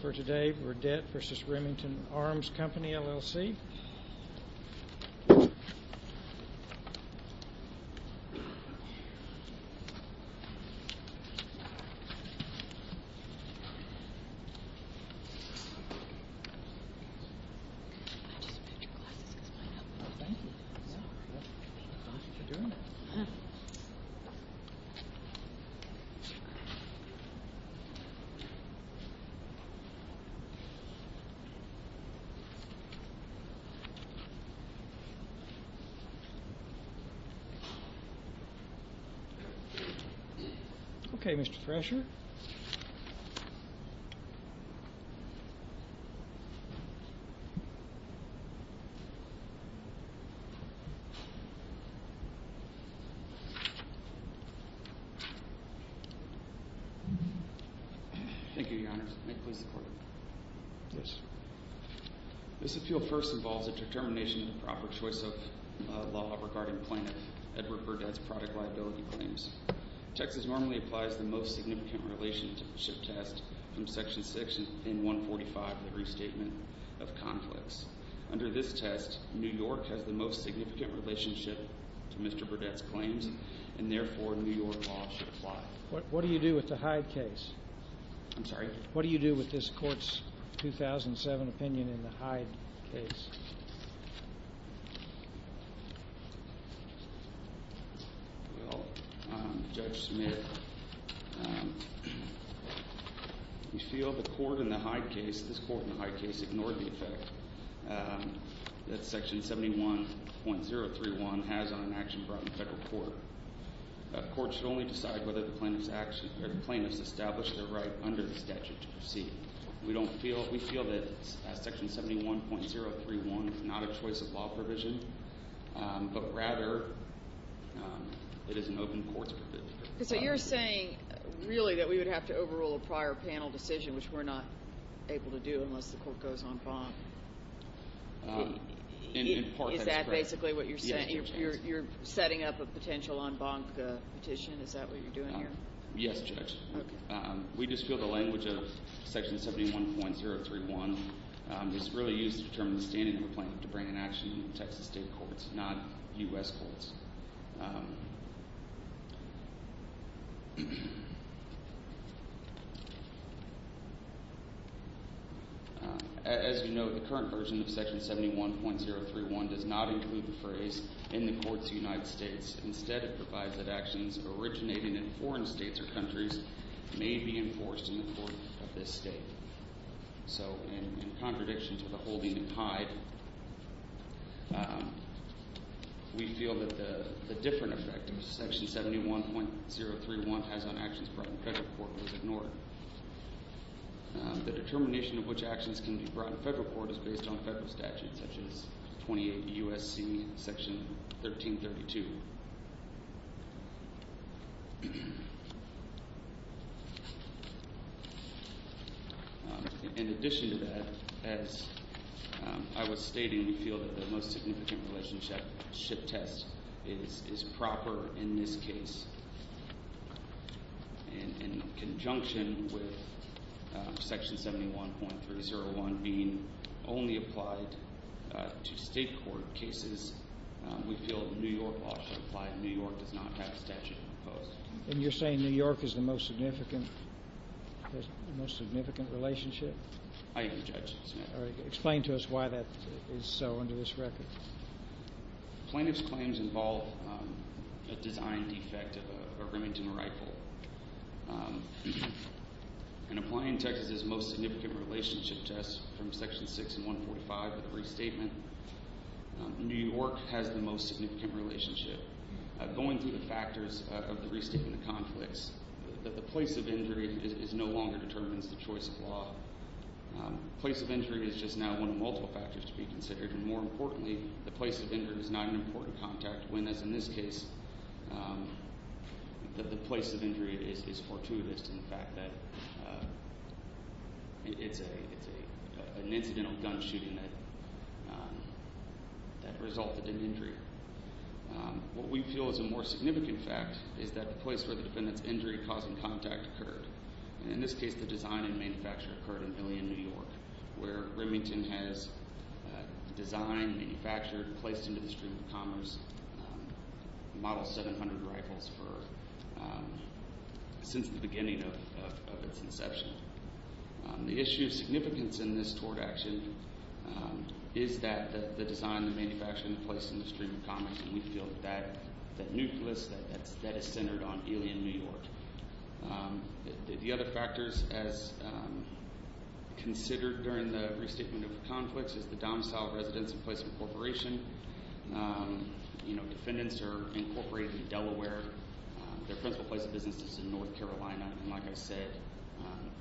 Burdett v. Remington Arms Company, L.L.C. Okay, Mr. Thresher. Thank you, Your Honor. May it please the Court? Yes. This appeal first involves a determination of the proper choice of law regarding plaintiff Edward Burdett's product liability claims. Texas normally applies the most significant relationship test from Section 6 and 145 of the Restatement of Conflicts. Under this test, New York has the most significant relationship to Mr. Burdett's claims, and therefore, New York law should apply. What do you do with the Hyde case? I'm sorry? What do you do with this Court's 2007 opinion in the Hyde case? Well, Judge Smith, we feel the Court in the Hyde case, this Court in the Hyde case, ignored the effect that Section 71.031 has on an action brought in federal court. A court should only decide whether the plaintiff's established their right under the statute to proceed. We feel that Section 71.031 is not a choice of law provision, but rather it is an open court's provision. So you're saying, really, that we would have to overrule a prior panel decision, which we're not able to do unless the Court goes on bond? In part, that's correct. You're setting up a potential en banc petition? Is that what you're doing here? Yes, Judge. We just feel the language of Section 71.031 is really used to determine the standing of a plaintiff to bring an action to Texas state courts, not U.S. courts. As you know, the current version of Section 71.031 does not include the phrase, in the courts of the United States. Instead, it provides that actions originating in foreign states or countries may be enforced in the court of this state. So in contradiction to the holding and hide, we feel that the different effect of Section 71.031 has on actions brought in federal court was ignored. The determination of which actions can be brought in federal court is based on federal statutes, such as 28 U.S.C. Section 1332. In addition to that, as I was stating, we feel that the most significant relationship test is proper in this case. In conjunction with Section 71.301 being only applied to state court cases, we feel New York law should apply. New York does not have a statute imposed. And you're saying New York is the most significant relationship? I object, Your Honor. Explain to us why that is so under this record. Plaintiff's claims involve a design defect of a Remington rifle. In applying Texas' most significant relationship test from Section 6 and 145 of the restatement, New York has the most significant relationship. Going through the factors of the restatement conflicts, the place of injury no longer determines the choice of law. Place of injury is just now one of multiple factors to be considered. And more importantly, the place of injury is not an important contact when, as in this case, the place of injury is fortuitous in the fact that it's an incidental gun shooting that resulted in injury. What we feel is a more significant fact is that the place where the defendant's injury causing contact occurred. And in this case, the design and manufacture occurred in Millian, New York, where Remington has designed, manufactured, placed into the stream of commerce Model 700 rifles since the beginning of its inception. The issue of significance in this tort action is that the design, the manufacturing, the construction of the stream of commerce, and we feel that that nucleus, that is centered on Millian, New York. The other factors as considered during the restatement of the conflicts is the domicile residence in place of incorporation. Defendants are incorporated in Delaware. Their principal place of business is in North Carolina. And like I said,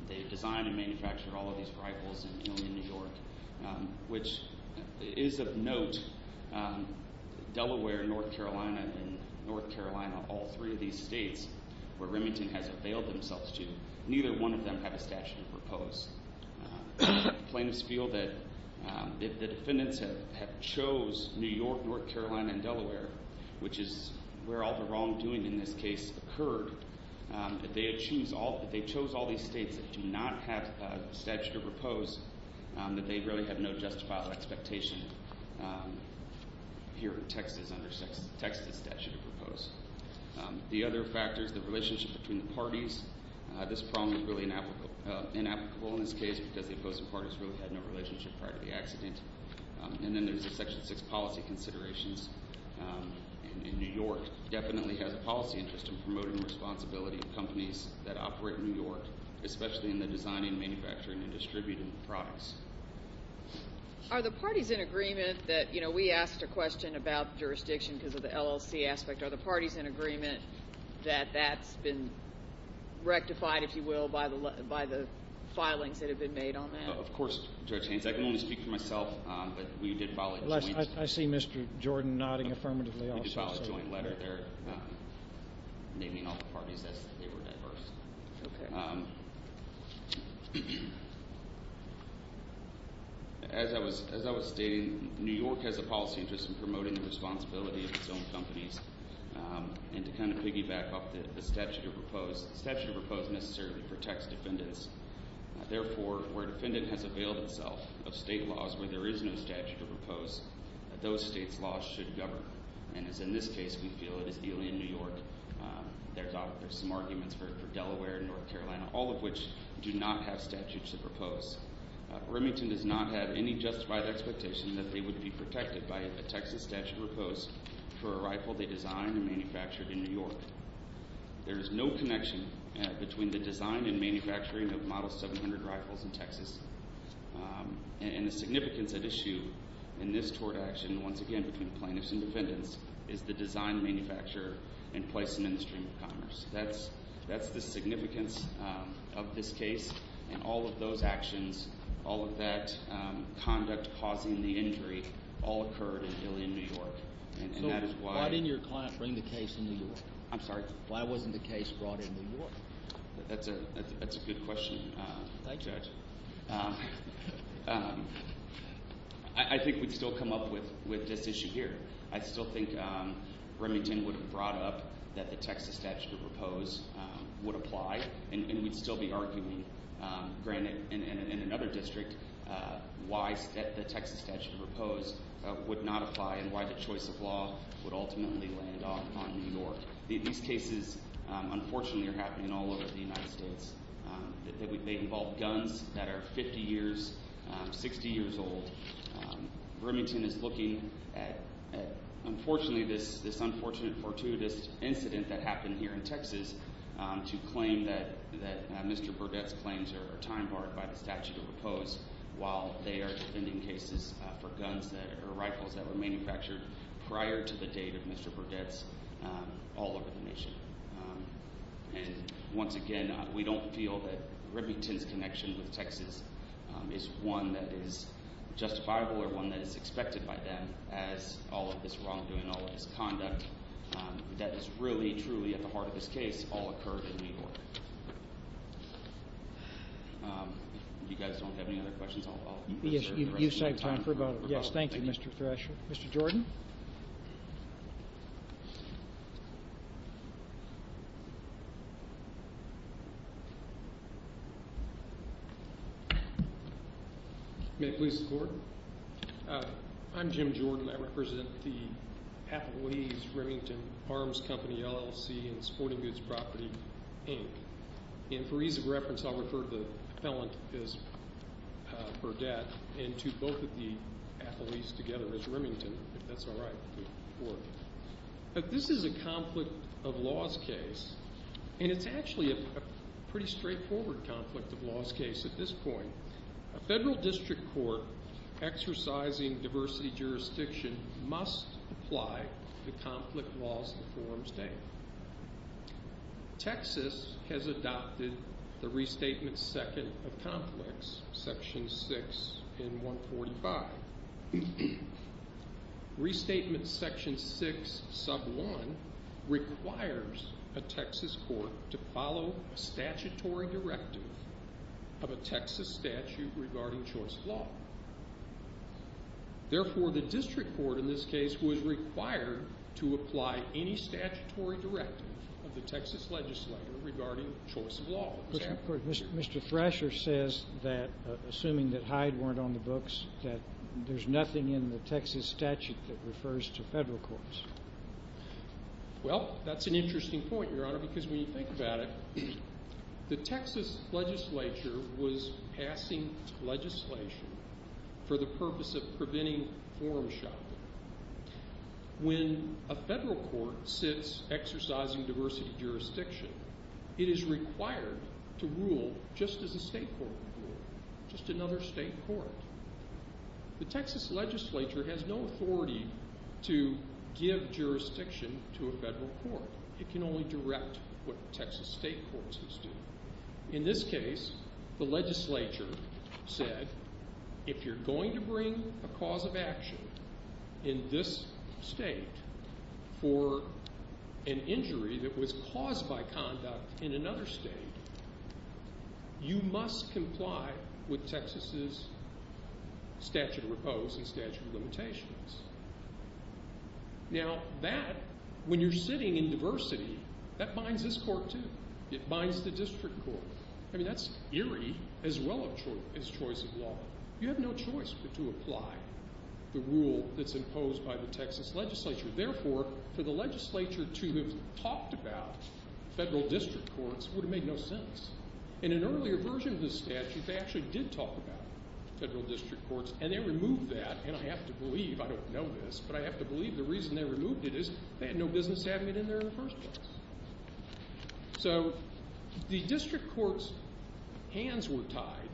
they design and manufacture all of these rifles in Millian, New York, which is of note Delaware, North Carolina, and North Carolina, all three of these states where Remington has availed themselves to, neither one of them have a statute of repose. Plaintiffs feel that if the defendants have chose New York, North Carolina, and Delaware, which is where all the wrongdoing in this case occurred, if they chose all these states that do not have a statute of repose, that they really have no justifiable expectation here in Texas under Texas statute of repose. The other factors, the relationship between the parties, this problem is really inapplicable in this case because the opposing parties really had no relationship prior to the accident. And then there's the Section 6 policy considerations. New York definitely has a policy interest in promoting responsibility of companies that especially in the designing, manufacturing, and distributing of products. Are the parties in agreement that, you know, we asked a question about jurisdiction because of the LLC aspect. Are the parties in agreement that that's been rectified, if you will, by the filings that have been made on that? Of course, Judge Haynes. I can only speak for myself, but we did file a joint letter. I see Mr. Jordan nodding affirmatively also. We did file a joint letter there naming all the parties as they were diverse. Okay. As I was stating, New York has a policy interest in promoting the responsibility of its own companies. And to kind of piggyback off the statute of repose, the statute of repose necessarily protects defendants. Therefore, where a defendant has availed itself of state laws where there is no statute of repose, those states' laws should govern. And as in this case, we feel it is the only in New York. There's some arguments for Delaware and North Carolina, all of which do not have statutes of repose. Remington does not have any justified expectation that they would be protected by a Texas statute of repose for a rifle they designed and manufactured in New York. There is no connection between the design and manufacturing of Model 700 rifles in Texas. And the significance at issue in this tort action, once again, between plaintiffs and defendants, is the design, manufacture, and placement in the stream of commerce. That's the significance of this case. And all of those actions, all of that conduct causing the injury, all occurred in Dillian, New York. So why didn't your client bring the case to New York? I'm sorry? Why wasn't the case brought in New York? That's a good question, Judge. I think we'd still come up with this issue here. I still think Remington would have brought up that the Texas statute of repose would apply, and we'd still be arguing, granted, in another district why the Texas statute of repose would not apply and why the choice of law would ultimately land off on New York. These cases, unfortunately, are happening all over the United States. They involve guns that are 50 years, 60 years old. Remington is looking at, unfortunately, this unfortunate, fortuitous incident that happened here in Texas to claim that Mr. Burdett's claims are time barred by the statute of repose while they are defending cases for guns or rifles that were manufactured prior to the date of Mr. Burdett's all over the nation. And once again, we don't feel that Remington's connection with Texas is one that is justifiable or one that is expected by them as all of this wrongdoing, all of this conduct, that is really, truly at the heart of this case, all occurred in New York. If you guys don't have any other questions, I'll... Yes, you saved time for about... Yes, thank you, Mr. Thresher. Mr. Jordan? May I please support? I'm Jim Jordan. I represent the athletes, Remington Arms Company, LLC, and Sporting Goods Property, Inc. And for ease of reference, I'll refer to the felon as Burdett and to both of the athletes together as Remington, if that's all right with you. This is a conflict of laws case, and it's actually a pretty straightforward conflict of laws case at this point. A federal district court exercising diversity jurisdiction must apply the conflict laws to form state. Texas has adopted the Restatement Second of Conflicts, Section 6 in 145. Restatement Section 6, Sub 1 requires a Texas court to follow a statutory directive of a Texas statute regarding choice of law. Therefore, the district court in this case was required to apply any statutory directive of the Texas legislature regarding choice of law. Mr. Thresher says that, assuming that Hyde weren't on the books, that there's nothing in the Texas statute that refers to federal courts. Well, that's an interesting point, Your Honor, because when you think about it, the Texas legislature was passing legislation for the purpose of preventing forum shopping. When a federal court sits exercising diversity jurisdiction, it is required to rule just as a state court would rule, just another state court. The Texas legislature has no authority to give jurisdiction to a federal court. It can only direct what Texas state courts must do. In this case, the legislature said, if you're going to bring a cause of action in this state for an injury that was caused by conduct in another state, you must comply with Texas' statute of repose and statute of limitations. Now, that, when you're sitting in diversity, that binds this court, too. It binds the district court. I mean, that's eerie as well as choice of law. You have no choice but to apply the rule that's imposed by the Texas legislature. Therefore, for the legislature to have talked about federal district courts would have made no sense. In an earlier version of the statute, they actually did talk about federal district courts, and they removed that. And I have to believe, I don't know this, but I have to believe the reason they removed it is they had no business having it in there in the first place. So the district court's hands were tied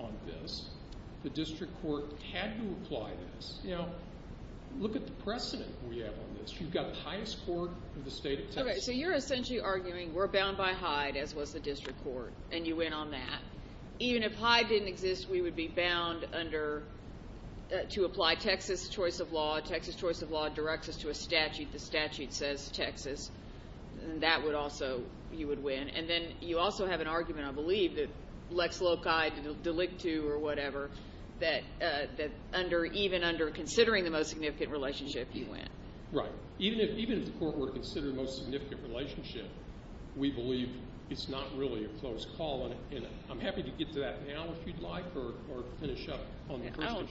on this. The district court had to apply this. Now, look at the precedent we have on this. You've got the highest court of the state of Texas. So you're essentially arguing we're bound by Hyde, as was the district court, and you went on that. Even if Hyde didn't exist, we would be bound under, to apply Texas choice of law. Texas choice of law directs us to a statute. The statute says Texas. That would also, you would win. And then you also have an argument, I believe, that Lex Loci delict to or whatever, that even under considering the most significant relationship, you win. Right. Even if the court were to consider the most significant relationship, we believe it's not really a close call. And I'm happy to get to that now if you'd like or finish up on the first issue.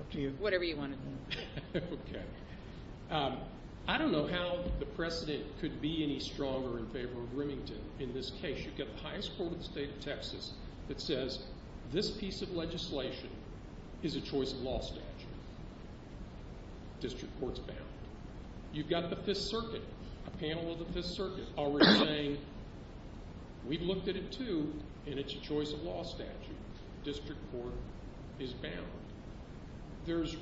Up to you. Whatever you want to do. Okay. I don't know how the precedent could be any stronger in favor of Remington in this case. You've got the highest court of the state of Texas that says this piece of legislation is a choice of law statute. District court's bound. You've got the Fifth Circuit, a panel of the Fifth Circuit, already saying we've looked at it, too, and it's a choice of law statute. District court is bound. There's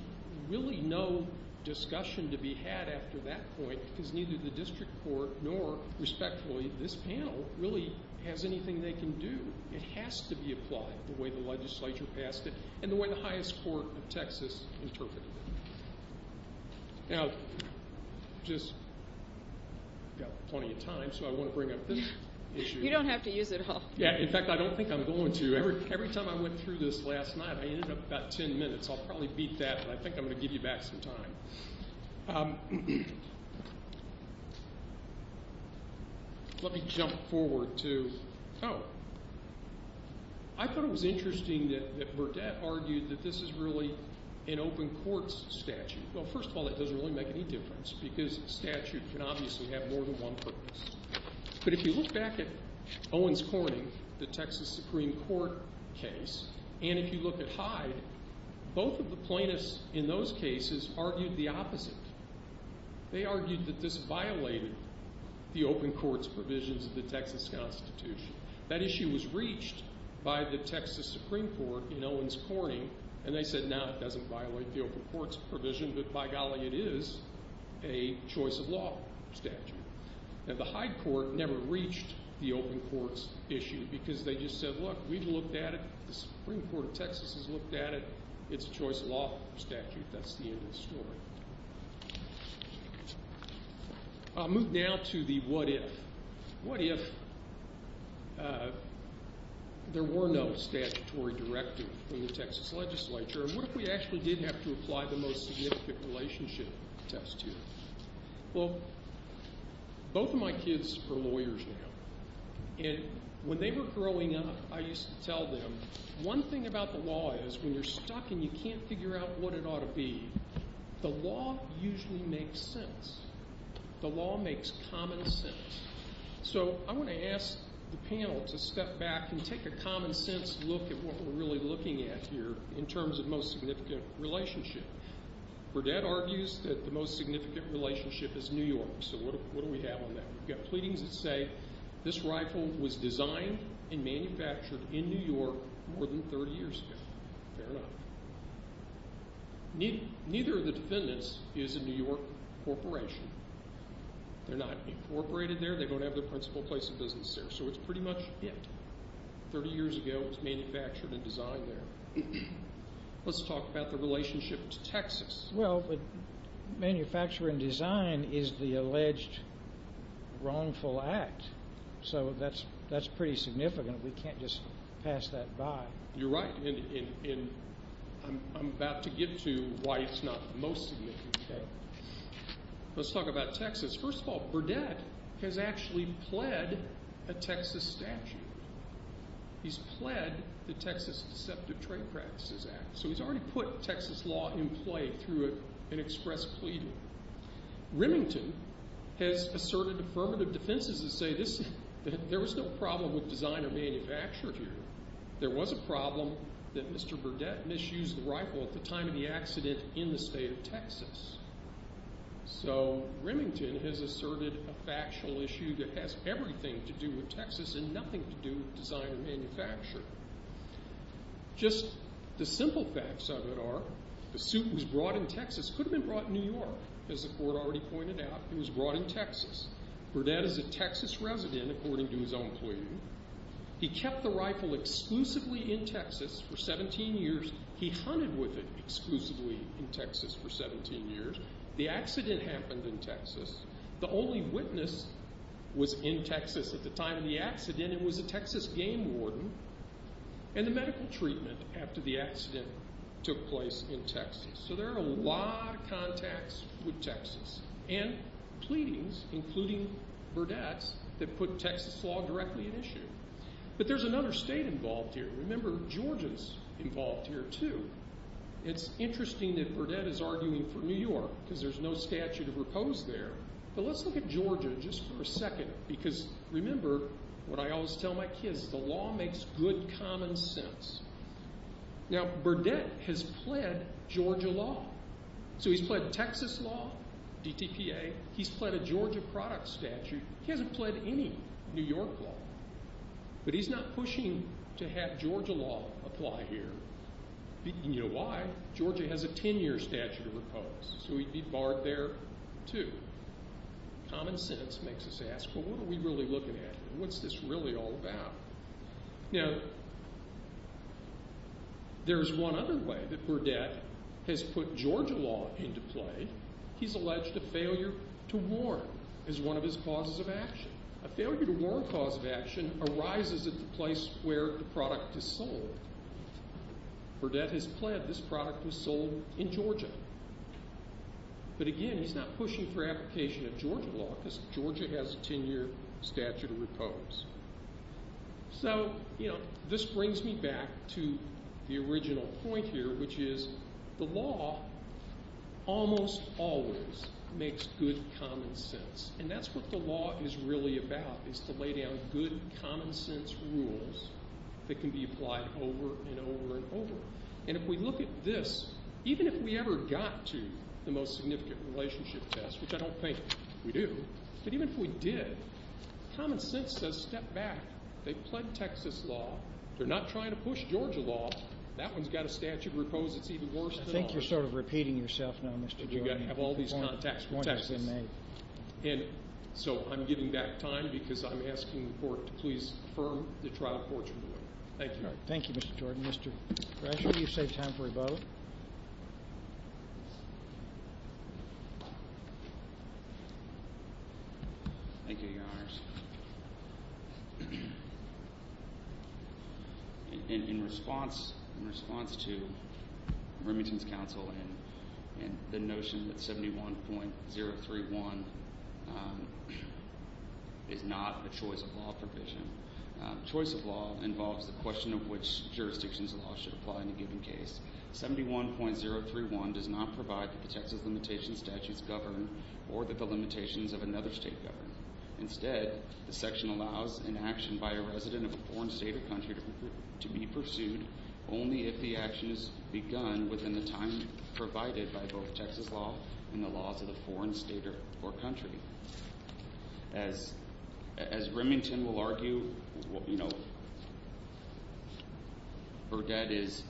really no discussion to be had after that point because neither the district court nor, respectfully, this panel really has anything they can do. It has to be applied the way the legislature passed it and the way the highest court of Texas interpreted it. Now, I've just got plenty of time, so I want to bring up this issue. You don't have to use it all. Yeah. In fact, I don't think I'm going to. Every time I went through this last night, I ended up about ten minutes. I'll probably beat that, but I think I'm going to give you back some time. Let me jump forward to – oh. I thought it was interesting that Burdett argued that this is really an open court's statute. Well, first of all, that doesn't really make any difference because a statute can obviously have more than one purpose. But if you look back at Owens-Corning, the Texas Supreme Court case, and if you look at Hyde, both of the plaintiffs in those cases argued the opposite. They argued that this violated the open court's provisions of the Texas Constitution. That issue was reached by the Texas Supreme Court in Owens-Corning, and they said, no, it doesn't violate the open court's provision, but by golly, it is a choice of law statute. And the Hyde court never reached the open court's issue because they just said, look, we've looked at it. The Supreme Court of Texas has looked at it. It's a choice of law statute. That's the end of the story. I'll move now to the what if. What if there were no statutory directive from the Texas legislature? What if we actually did have to apply the most significant relationship test here? Well, both of my kids are lawyers now, and when they were growing up, I used to tell them one thing about the law is when you're stuck and you can't figure out what it ought to be, the law usually makes sense. The law makes common sense. So I want to ask the panel to step back and take a common sense look at what we're really looking at here in terms of most significant relationship. Burdett argues that the most significant relationship is New York. So what do we have on that? We've got pleadings that say this rifle was designed and manufactured in New York more than 30 years ago. Fair enough. Neither of the defendants is a New York corporation. They're not incorporated there. They don't have the principal place of business there. So it's pretty much it. 30 years ago, it was manufactured and designed there. Let's talk about the relationship to Texas. Well, but manufacturing design is the alleged wrongful act, so that's pretty significant. We can't just pass that by. You're right, and I'm about to get to why it's not the most significant. Let's talk about Texas. First of all, Burdett has actually pled a Texas statute. He's pled the Texas Deceptive Trade Practices Act. So he's already put Texas law in play through an express pleading. Remington has asserted affirmative defenses that say there was no problem with design or manufacture here. There was a problem that Mr. Burdett misused the rifle at the time of the accident in the state of Texas. So Remington has asserted a factual issue that has everything to do with Texas and nothing to do with design and manufacture. Just the simple facts of it are the suit was brought in Texas. It could have been brought in New York, as the court already pointed out. It was brought in Texas. Burdett is a Texas resident, according to his own pleading. He kept the rifle exclusively in Texas for 17 years. He hunted with it exclusively in Texas for 17 years. The accident happened in Texas. The only witness was in Texas at the time of the accident. It was a Texas game warden and the medical treatment after the accident took place in Texas. So there are a lot of contacts with Texas and pleadings, including Burdett's, that put Texas law directly at issue. But there's another state involved here. Remember, Georgia's involved here too. It's interesting that Burdett is arguing for New York because there's no statute of repose there. But let's look at Georgia just for a second because, remember, what I always tell my kids, the law makes good common sense. Now, Burdett has pled Georgia law. So he's pled Texas law, DTPA. He's pled a Georgia product statute. He hasn't pled any New York law. But he's not pushing to have Georgia law apply here. You know why? Georgia has a 10-year statute of repose, so he'd be barred there too. Common sense makes us ask, well, what are we really looking at here? What's this really all about? Now, there's one other way that Burdett has put Georgia law into play. He's alleged a failure to warn is one of his causes of action. A failure to warn cause of action arises at the place where the product is sold. Burdett has pled this product was sold in Georgia. But, again, he's not pushing for application of Georgia law because Georgia has a 10-year statute of repose. So, you know, this brings me back to the original point here, which is the law almost always makes good common sense. And that's what the law is really about is to lay down good common sense rules that can be applied over and over and over. And if we look at this, even if we ever got to the most significant relationship test, which I don't think we do, but even if we did, common sense says step back. They've pled Texas law. They're not trying to push Georgia law. That one's got a statute of repose that's even worse than ours. I think you're sort of repeating yourself now, Mr. Jordan. We have all these contacts with Texas. And so I'm giving back time because I'm asking the court to please affirm the trial court's ruling. Thank you. Thank you, Mr. Jordan. Mr. Grasher, you've saved time for a vote. Thank you, Your Honors. In response to Remington's counsel and the notion that 71.031 is not a choice of law provision, choice of law involves the question of which jurisdictions of law should apply in a given case. 71.031 does not provide that the Texas limitation statutes govern or that the limitations of another state govern. Instead, the section allows an action by a resident of a foreign state or country to be pursued only if the action is begun within the time provided by both Texas law and the laws of the foreign state or country. As Remington will argue, Burdett is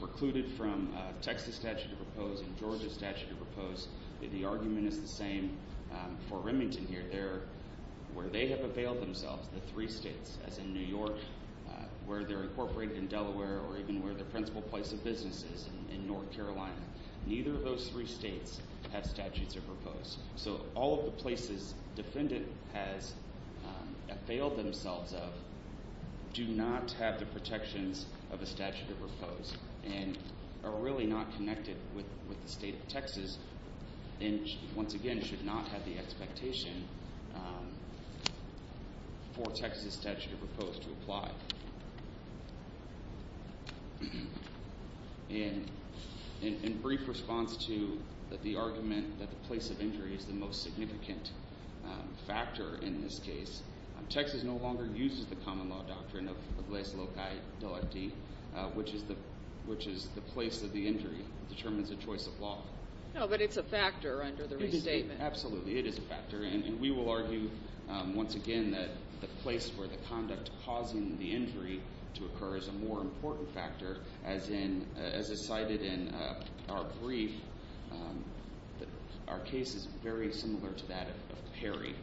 precluded from Texas statute of repose and Georgia statute of repose. The argument is the same for Remington here. Where they have availed themselves, the three states, as in New York, where they're incorporated in Delaware, or even where their principal place of business is in North Carolina, neither of those three states have statutes of repose. So all of the places defendant has availed themselves of do not have the protections of a statute of repose and are really not connected with the state of Texas and, once again, should not have the expectation for Texas statute of repose to apply. In brief response to the argument that the place of injury is the most significant factor in this case, Texas no longer uses the common law doctrine of lais locae delicti, which is the place of the injury determines the choice of law. No, but it's a factor under the restatement. Absolutely. It is a factor. And we will argue, once again, that the place where the conduct causing the injury to occur is a more important factor, as is cited in our brief. Our case is very similar to that of Perry.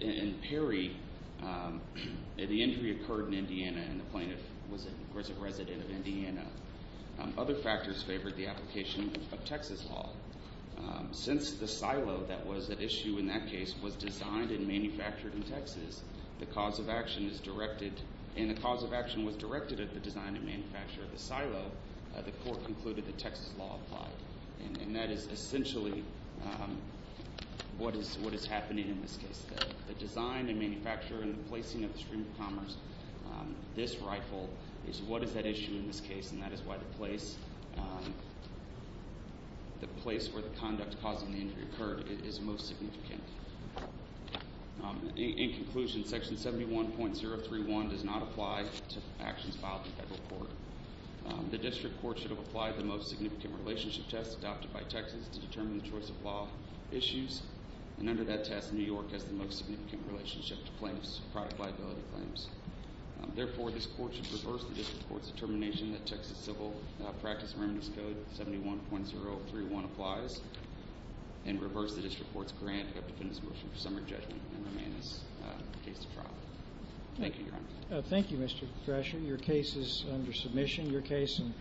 In Perry, the injury occurred in Indiana, and the plaintiff was a resident of Indiana. Other factors favored the application of Texas law. Since the silo that was at issue in that case was designed and manufactured in Texas, and the cause of action was directed at the design and manufacture of the silo, the court concluded that Texas law applied. And that is essentially what is happening in this case. The design and manufacture and the placing of the stream of commerce, this rifle, is what is at issue in this case, and that is why the place where the conduct causing the injury occurred is most significant. In conclusion, section 71.031 does not apply to actions filed in federal court. The district court should have applied the most significant relationship test adopted by Texas to determine the choice of law issues, and under that test, New York has the most significant relationship to claims, product liability claims. Therefore, this court should reverse the district court's determination that Texas Civil Practice Remedies Code 71.031 applies and reverse the district court's grant of the defendant's motion for summary judgment and remain as the case of trial. Thank you, Your Honor. Thank you, Mr. Thrasher. Your case is under submission.